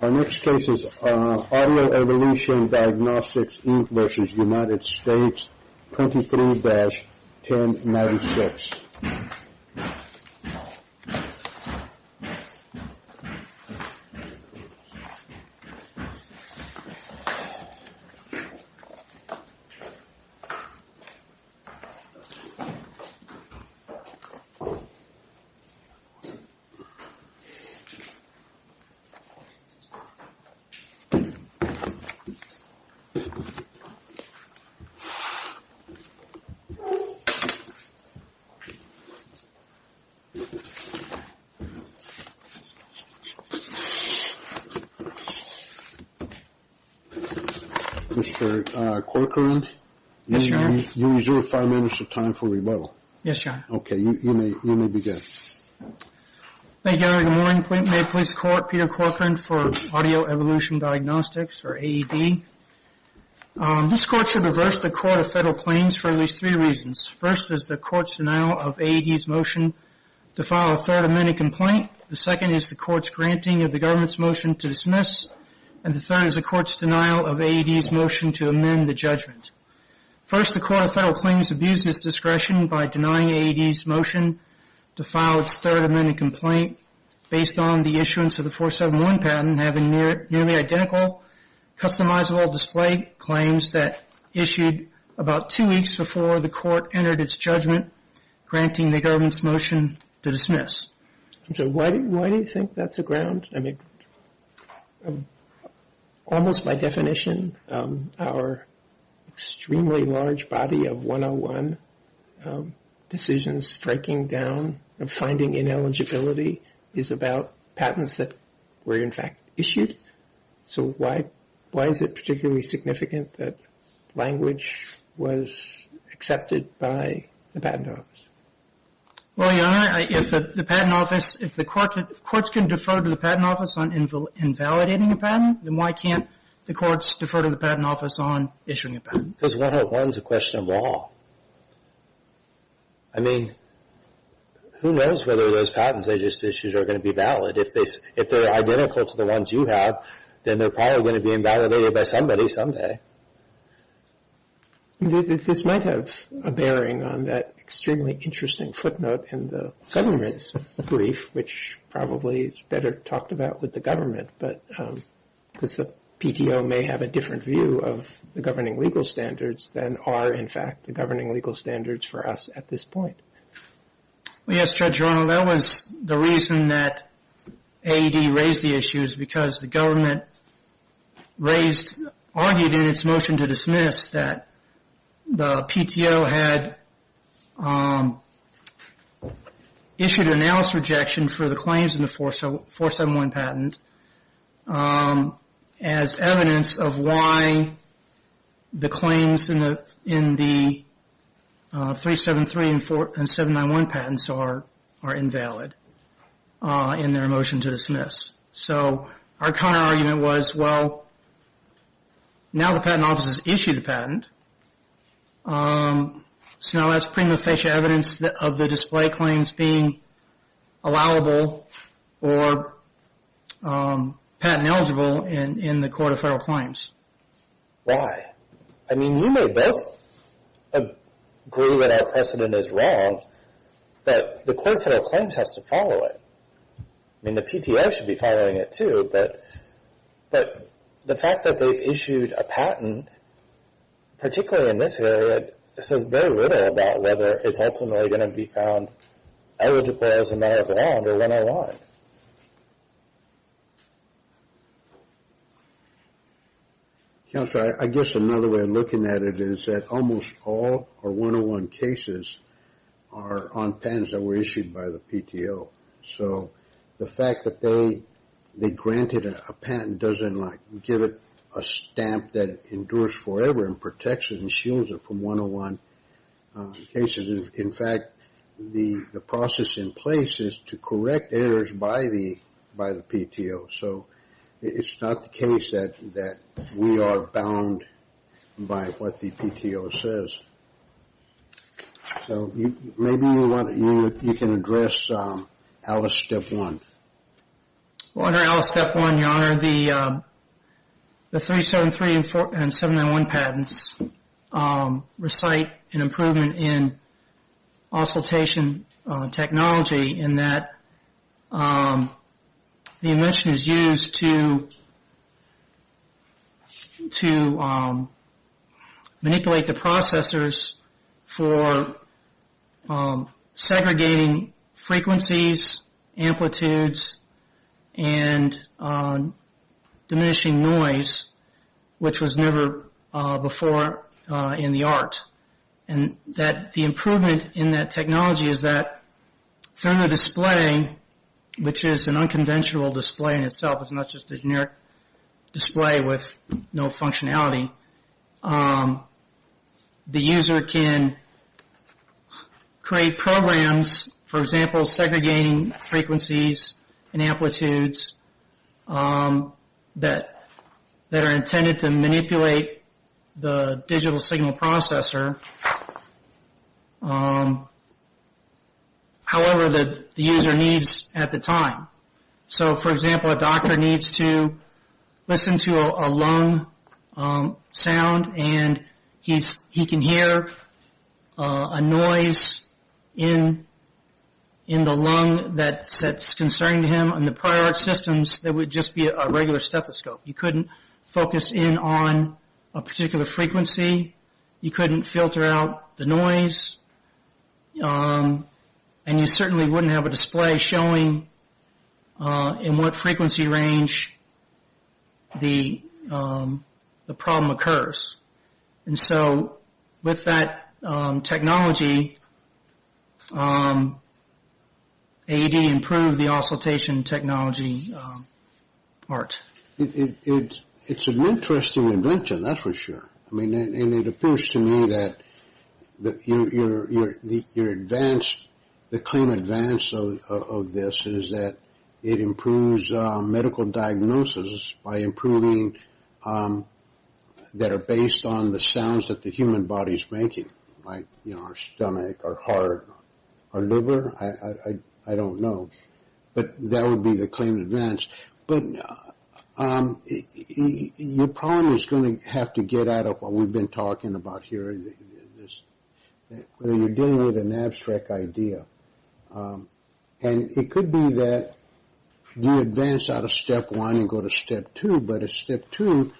Our next case is Audio Evolution Diagnostics, Inc. v. United States, 23-1096. Mr. Corcoran, you reserve five minutes of time for rebuttal. Yes, Your Honor. Okay, you may begin. Thank you, Your Honor. Good morning. May it please the Court, Peter Corcoran for Audio Evolution Diagnostics, or AED. This Court should reverse the Court of Federal Claims for at least three reasons. First is the Court's denial of AED's motion to file a third amended complaint. The second is the Court's granting of the government's motion to dismiss, and the third is the Court's denial of AED's motion to amend the judgment. First, the Court of Federal Claims abused its discretion by denying AED's motion to file its third amended complaint based on the issuance of the 471 patent having nearly identical customizable display claims that issued about two weeks before the Court entered its judgment, granting the government's motion to dismiss. Why do you think that's a ground? I mean, almost by definition, our extremely large body of 101 decisions striking down and finding ineligibility is about patents that were, in fact, issued. So why is it particularly significant that language was accepted by the Patent Office? Well, Your Honor, if the Patent Office – if the courts can defer to the Patent Office on invalidating a patent, then why can't the courts defer to the Patent Office on issuing a patent? Because 101 is a question of law. I mean, who knows whether those patents they just issued are going to be valid. If they're identical to the ones you have, then they're probably going to be invalidated by somebody someday. This might have a bearing on that extremely interesting footnote in the government's brief, which probably is better talked about with the government, because the PTO may have a different view of the governing legal standards than are, in fact, the governing legal standards for us at this point. Yes, Judge Ronald, that was the reason that AED raised the issue is because the government raised – argued in its motion to dismiss that the PTO had issued an announced rejection for the claims in the 471 patent as evidence of why the claims in the 373 and 791 patents are invalid in their motion to dismiss. So our counter-argument was, well, now the Patent Office has issued a patent, so now that's prima facie evidence of the display claims being allowable or patent eligible in the Court of Federal Claims. Why? I mean, you may both agree that our precedent is wrong, but the Court of Federal Claims has to follow it. I mean, the PTO should be following it, too, but the fact that they issued a patent, particularly in this area, says very little about whether it's ultimately going to be found eligible as a matter of ground or 101. Counselor, I guess another way of looking at it is that almost all our 101 cases are on patents that were issued by the PTO. So the fact that they granted a patent doesn't give it a stamp that endures forever and protects it and shields it from 101 cases. In fact, the process in place is to correct errors by the PTO. So it's not the case that we are bound by what the PTO says. So maybe you can address Alice Step 1. Well, under Alice Step 1, Your Honor, the 373 and 791 patents recite an improvement in auscultation technology in that the invention is used to manipulate the processors for segregating frequencies, amplitudes, and diminishing noise, which was never before in the art. The improvement in that technology is that through the display, which is an unconventional display in itself, it's not just a generic display with no functionality, the user can create programs, for example, segregating frequencies and amplitudes that are intended to manipulate the digital signal processor, however the user needs at the time. So, for example, a doctor needs to listen to a lung sound, and he can hear a noise in the lung that's concerning to him. In the prior art systems, there would just be a regular stethoscope. You couldn't focus in on a particular frequency. And you certainly wouldn't have a display showing in what frequency range the problem occurs. And so with that technology, AED improved the auscultation technology part. It's an interesting invention, that's for sure. And it appears to me that the claim advance of this is that it improves medical diagnosis by improving that are based on the sounds that the human body is making, like our stomach, our heart, our liver. I don't know, but that would be the claim advance. But your problem is going to have to get out of what we've been talking about here, where you're dealing with an abstract idea. And it could be that you advance out of step one and go to step two. But at step two,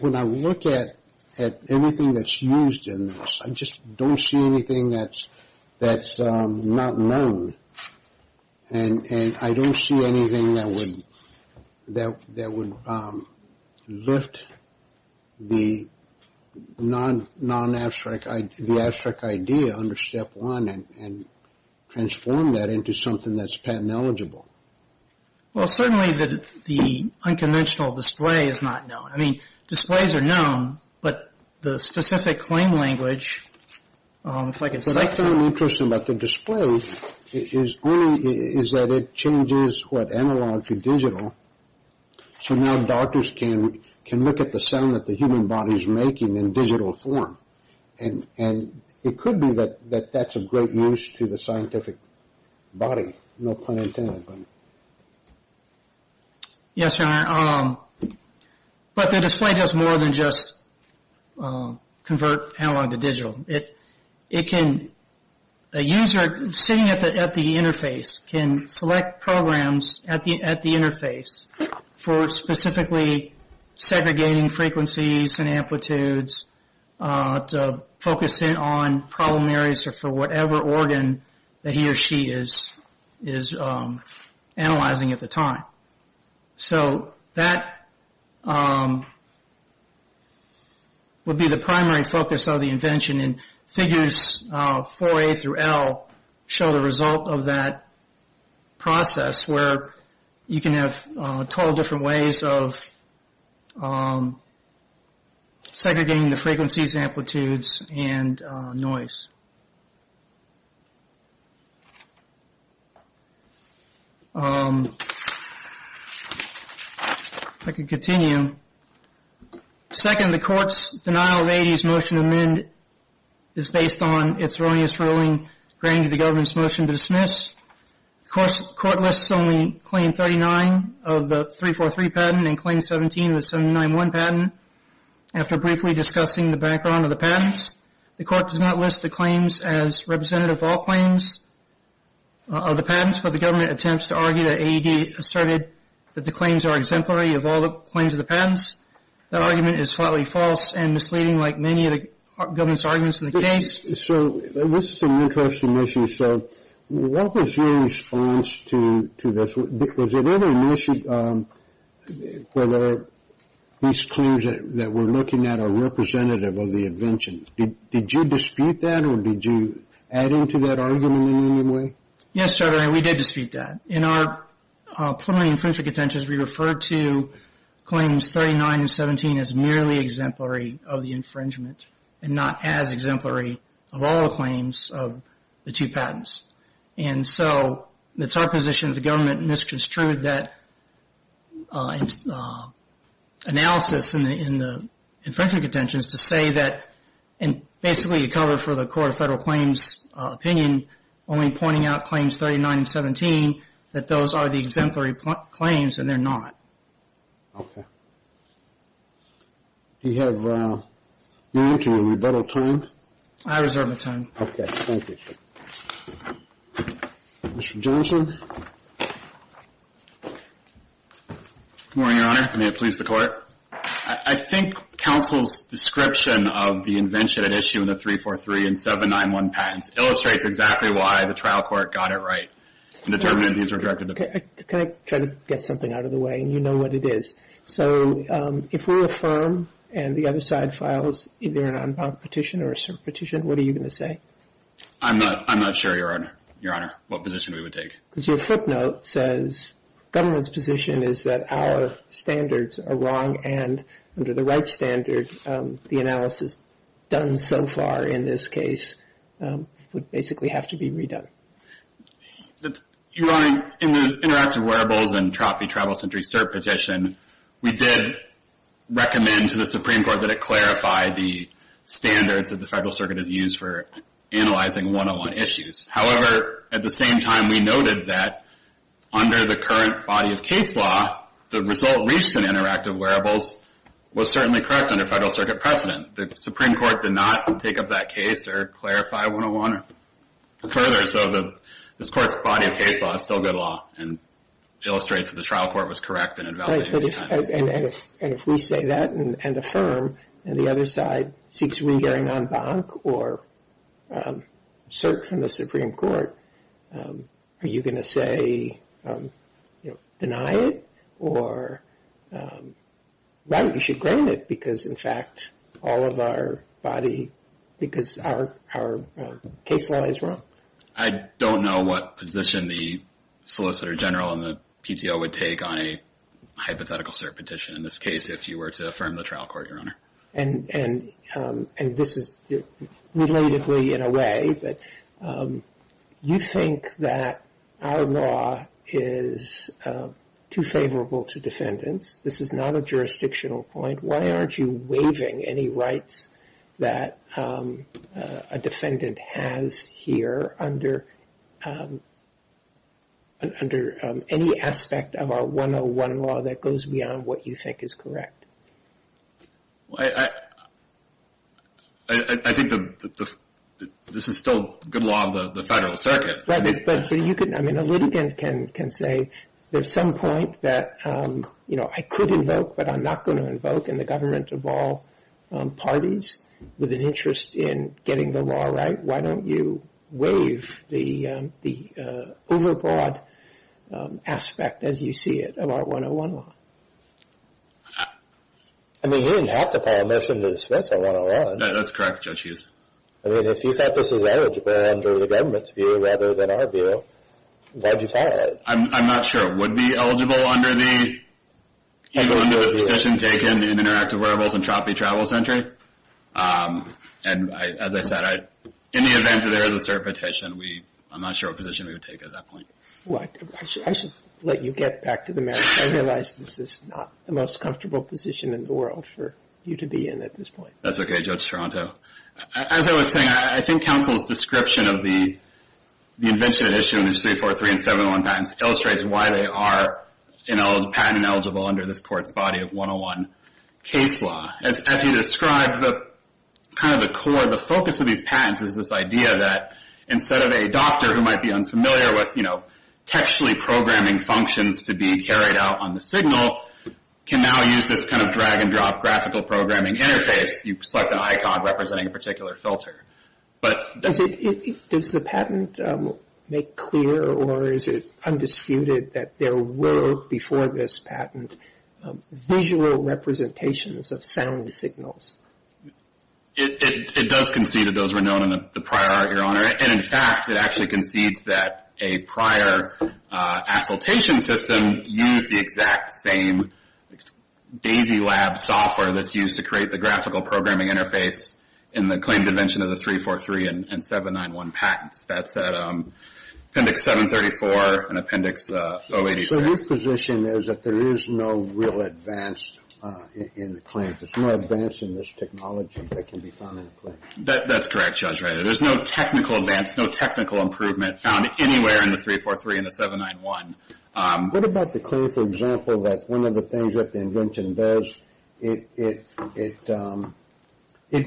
when I look at anything that's used in this, I just don't see anything that's not known. And I don't see anything that would lift the non-abstract idea under step one and transform that into something that's patent eligible. Well, certainly the unconventional display is not known. I mean, displays are known, but the specific claim language, if I could say so. What I found interesting about the display is that it changes what analog to digital, so now doctors can look at the sound that the human body is making in digital form. And it could be that that's of great use to the scientific body, no pun intended. Yes, but the display does more than just convert analog to digital. A user sitting at the interface can select programs at the interface for specifically segregating frequencies and amplitudes to focus in on problem areas or for whatever organ that he or she is analyzing at the time. So that would be the primary focus of the invention, and figures 4A through L show the result of that process where you can have 12 different ways of segregating the frequencies, amplitudes, and noise. If I could continue. Second, the court's denial of AED's motion to amend is based on its erroneous ruling granting the government's motion to dismiss. The court lists only claim 39 of the 343 patent and claim 17 of the 79-1 patent. After briefly discussing the background of the patents, the court does not list the claims as representative of all claims of the patents, but the government attempts to argue that AED asserted that the claims are exemplary of all the claims of the patents. That argument is slightly false and misleading, like many of the government's arguments in the case. So this is an interesting issue. So what was your response to this? Was there ever a notion whether these claims that we're looking at are representative of the invention? Did you dispute that, or did you add into that argument in any way? Yes, Trevor, we did dispute that. In our preliminary infringement contentions, we referred to claims 39 and 17 as merely exemplary of the infringement and not as exemplary of all the claims of the two patents. And so it's our position that the government misconstrued that analysis in the infringement contentions to say that, and basically you cover for the Court of Federal Claims' opinion, only pointing out claims 39 and 17, that those are the exemplary claims and they're not. Okay. Do you have room to rebuttal time? I reserve the time. Okay, thank you. Mr. Johnson? Good morning, Your Honor. May it please the Court. I think counsel's description of the invention at issue in the 343 and 791 patents illustrates exactly why the trial court got it right and determined these were directed to be. Can I try to get something out of the way? You know what it is. So if we affirm and the other side files either an unbound petition or a cert petition, what are you going to say? I'm not sure, Your Honor, what position we would take. Because your footnote says government's position is that our standards are wrong and under the right standard, the analysis done so far in this case would basically have to be redone. Your Honor, in the interactive wearables and Trophy Travel Sentry Cert petition, we did recommend to the Supreme Court that it clarify the standards that the Federal Circuit has used for analyzing one-on-one issues. However, at the same time, we noted that under the current body of case law, the result reached in interactive wearables was certainly correct under Federal Circuit precedent. The Supreme Court did not take up that case or clarify one-on-one further, so this Court's body of case law is still good law and illustrates that the trial court was correct in invalidating the standards. And if we say that and affirm and the other side seeks re-hearing en banc or cert from the Supreme Court, are you going to say, you know, deny it? Or, right, you should grant it because, in fact, all of our body, because our case law is wrong? I don't know what position the Solicitor General and the PTO would take on a hypothetical cert petition, in this case, if you were to affirm the trial court, Your Honor. And this is relatedly, in a way, that you think that our law is too favorable to defendants. This is not a jurisdictional point. Why aren't you waiving any rights that a defendant has here under any aspect of our one-on-one law that goes beyond what you think is correct? I think that this is still good law in the Federal Circuit. Right, but you could, I mean, a litigant can say there's some point that, you know, I could invoke, but I'm not going to invoke in the government of all parties with an interest in getting the law right. Why don't you waive the overbroad aspect, as you see it, of our one-on-one law? I mean, you didn't have to pay admission to dismiss our one-on-one. That's correct, Judge Hughes. I mean, if you thought this was eligible under the government's view rather than our view, why did you file it? I'm not sure it would be eligible under the position taken in Interactive Wearables and Traffic Travel Sentry. And as I said, in the event that there is a cert petition, I'm not sure what position we would take at that point. Well, I should let you get back to the merits. I realize this is not the most comfortable position in the world for you to be in at this point. That's okay, Judge Toronto. As I was saying, I think counsel's description of the invention and issue in the 643 and 701 patents illustrates why they are patent-eligible under this Court's body of one-on-one case law. As you described, kind of the core, the focus of these patents is this idea that instead of a doctor who might be unfamiliar with textually programming functions to be carried out on the signal, can now use this kind of drag-and-drop graphical programming interface. You select an icon representing a particular filter. Does the patent make clear or is it undisputed that there were, before this patent, visual representations of sound signals? It does concede that those were known in the prior art, Your Honor. And, in fact, it actually concedes that a prior assultation system used the exact same DAISYLAB software that's used to create the graphical programming interface in the claimed invention of the 343 and 791 patents. That's at Appendix 734 and Appendix 083. So your position is that there is no real advance in the claim? There's no advance in this technology that can be found in the claim? That's correct, Judge. There's no technical advance, no technical improvement found anywhere in the 343 and the 791. What about the claim, for example, that one of the things that the invention does, it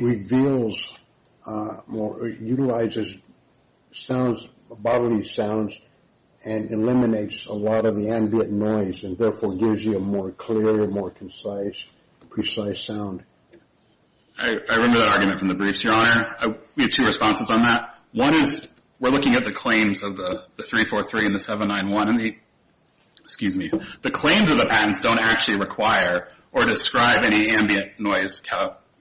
reveals or utilizes bodily sounds and eliminates a lot of the ambient noise and therefore gives you a more clear, more concise, precise sound? I remember that argument from the briefs, Your Honor. We have two responses on that. One is we're looking at the claims of the 343 and the 791. The claims of the patents don't actually require or describe any ambient noise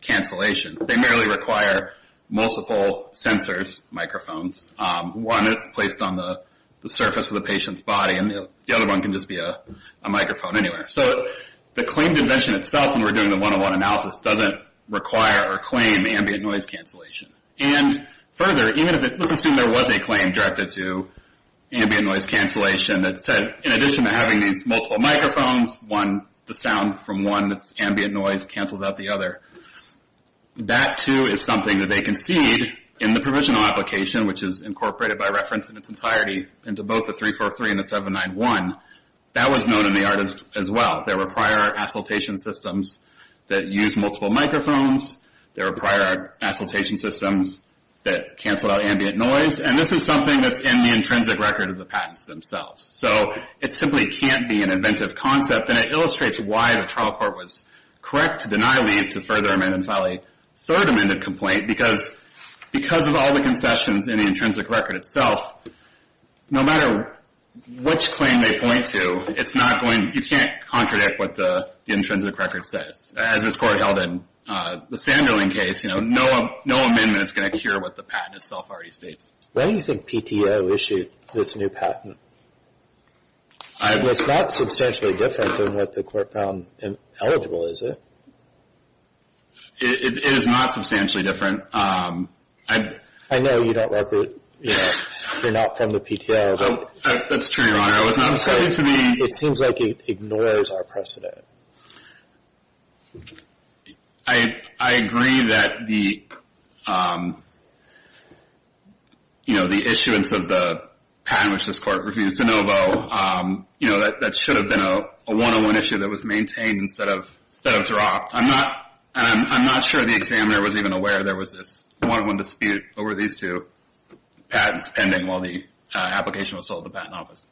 cancellation. They merely require multiple sensors, microphones. One is placed on the surface of the patient's body, and the other one can just be a microphone anywhere. So the claimed invention itself, when we're doing the one-on-one analysis, doesn't require or claim ambient noise cancellation. And further, let's assume there was a claim directed to ambient noise cancellation that said in addition to having these multiple microphones, the sound from one that's ambient noise cancels out the other. That, too, is something that they concede in the provisional application, which is incorporated by reference in its entirety into both the 343 and the 791. That was known in the art as well. There were prior assultation systems that used multiple microphones. There were prior assultation systems that canceled out ambient noise. And this is something that's in the intrinsic record of the patents themselves. So it simply can't be an inventive concept, and it illustrates why the trial court was correct to deny leave to further amend and file a third amended complaint because of all the concessions in the intrinsic record itself, no matter which claim they point to, you can't contradict what the intrinsic record says, as this court held in the Sanderling case. No amendment is going to cure what the patent itself already states. Why do you think PTO issued this new patent? It's not substantially different than what the court found eligible, is it? It is not substantially different. I know you don't like it. You're not from the PTO. That's true, Your Honor. It seems like it ignores our precedent. I agree that the issuance of the patent, which this court refused to know about, that should have been a one-on-one issue that was maintained instead of dropped. I'm not sure the examiner was even aware there was this one-on-one dispute over these two patents pending while the application was sold to the Patent Office.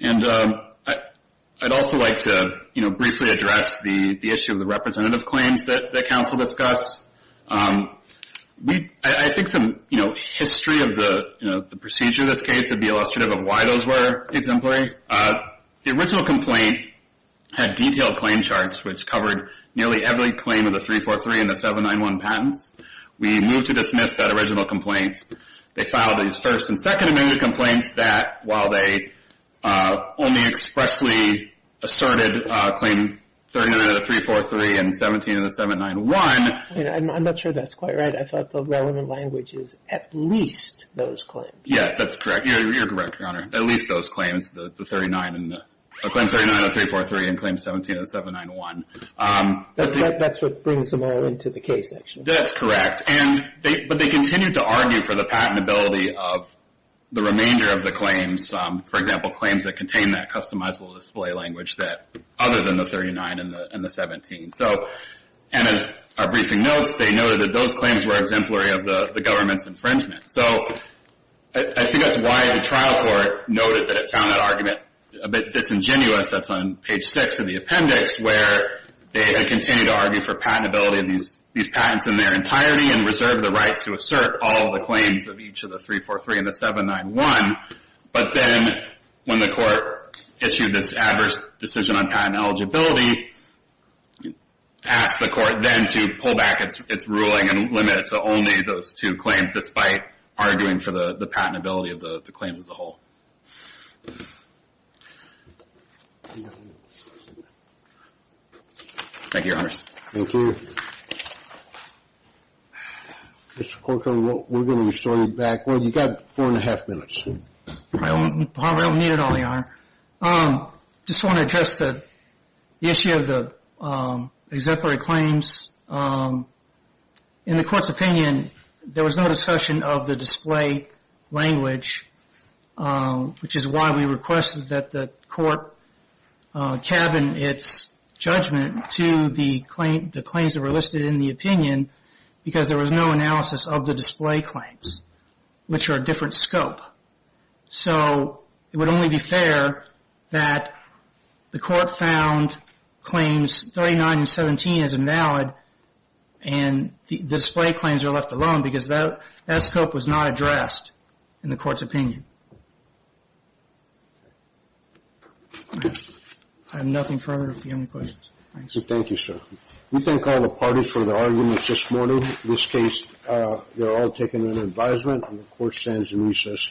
And I'd also like to briefly address the issue of the representative claims that counsel discussed. I think some history of the procedure in this case would be illustrative of why those were exemplary. The original complaint had detailed claim charts, which covered nearly every claim of the 343 and the 791 patents. We moved to dismiss that original complaint. They filed these First and Second Amendment complaints that, while they only expressly asserted claim 39 of the 343 and 17 of the 791. I'm not sure that's quite right. I thought the relevant language is at least those claims. Yeah, that's correct. You're correct, Your Honor. At least those claims, the 39 and the – claim 39 of the 343 and claim 17 of the 791. That's what brings them all into the case, actually. That's correct. But they continued to argue for the patentability of the remainder of the claims, for example, claims that contain that customizable display language that – other than the 39 and the 17. And as our briefing notes, they noted that those claims were exemplary of the government's infringement. So I think that's why the trial court noted that it found that argument a bit disingenuous. That's on page 6 of the appendix, where they continue to argue for patentability of these patents in their entirety and reserve the right to assert all the claims of each of the 343 and the 791. But then when the court issued this adverse decision on patent eligibility, asked the court then to pull back its ruling and limit it to only those two claims, despite arguing for the patentability of the claims as a whole. Thank you, Your Honors. Thank you. Mr. Corcoran, we're going to be starting back. Well, you've got four and a half minutes. I don't need it all, Your Honor. I just want to address the issue of the exemplary claims. In the court's opinion, there was no discussion of the display language, which is why we requested that the court cabin its judgment to the claims that were listed in the opinion, because there was no analysis of the display claims, which are a different scope. So it would only be fair that the court found claims 39 and 17 as invalid and the display claims are left alone because that scope was not addressed in the court's opinion. I have nothing further if you have any questions. Thank you, sir. We thank all the parties for their arguments this morning. In this case, they're all taking an advisement, and the court stands in recess.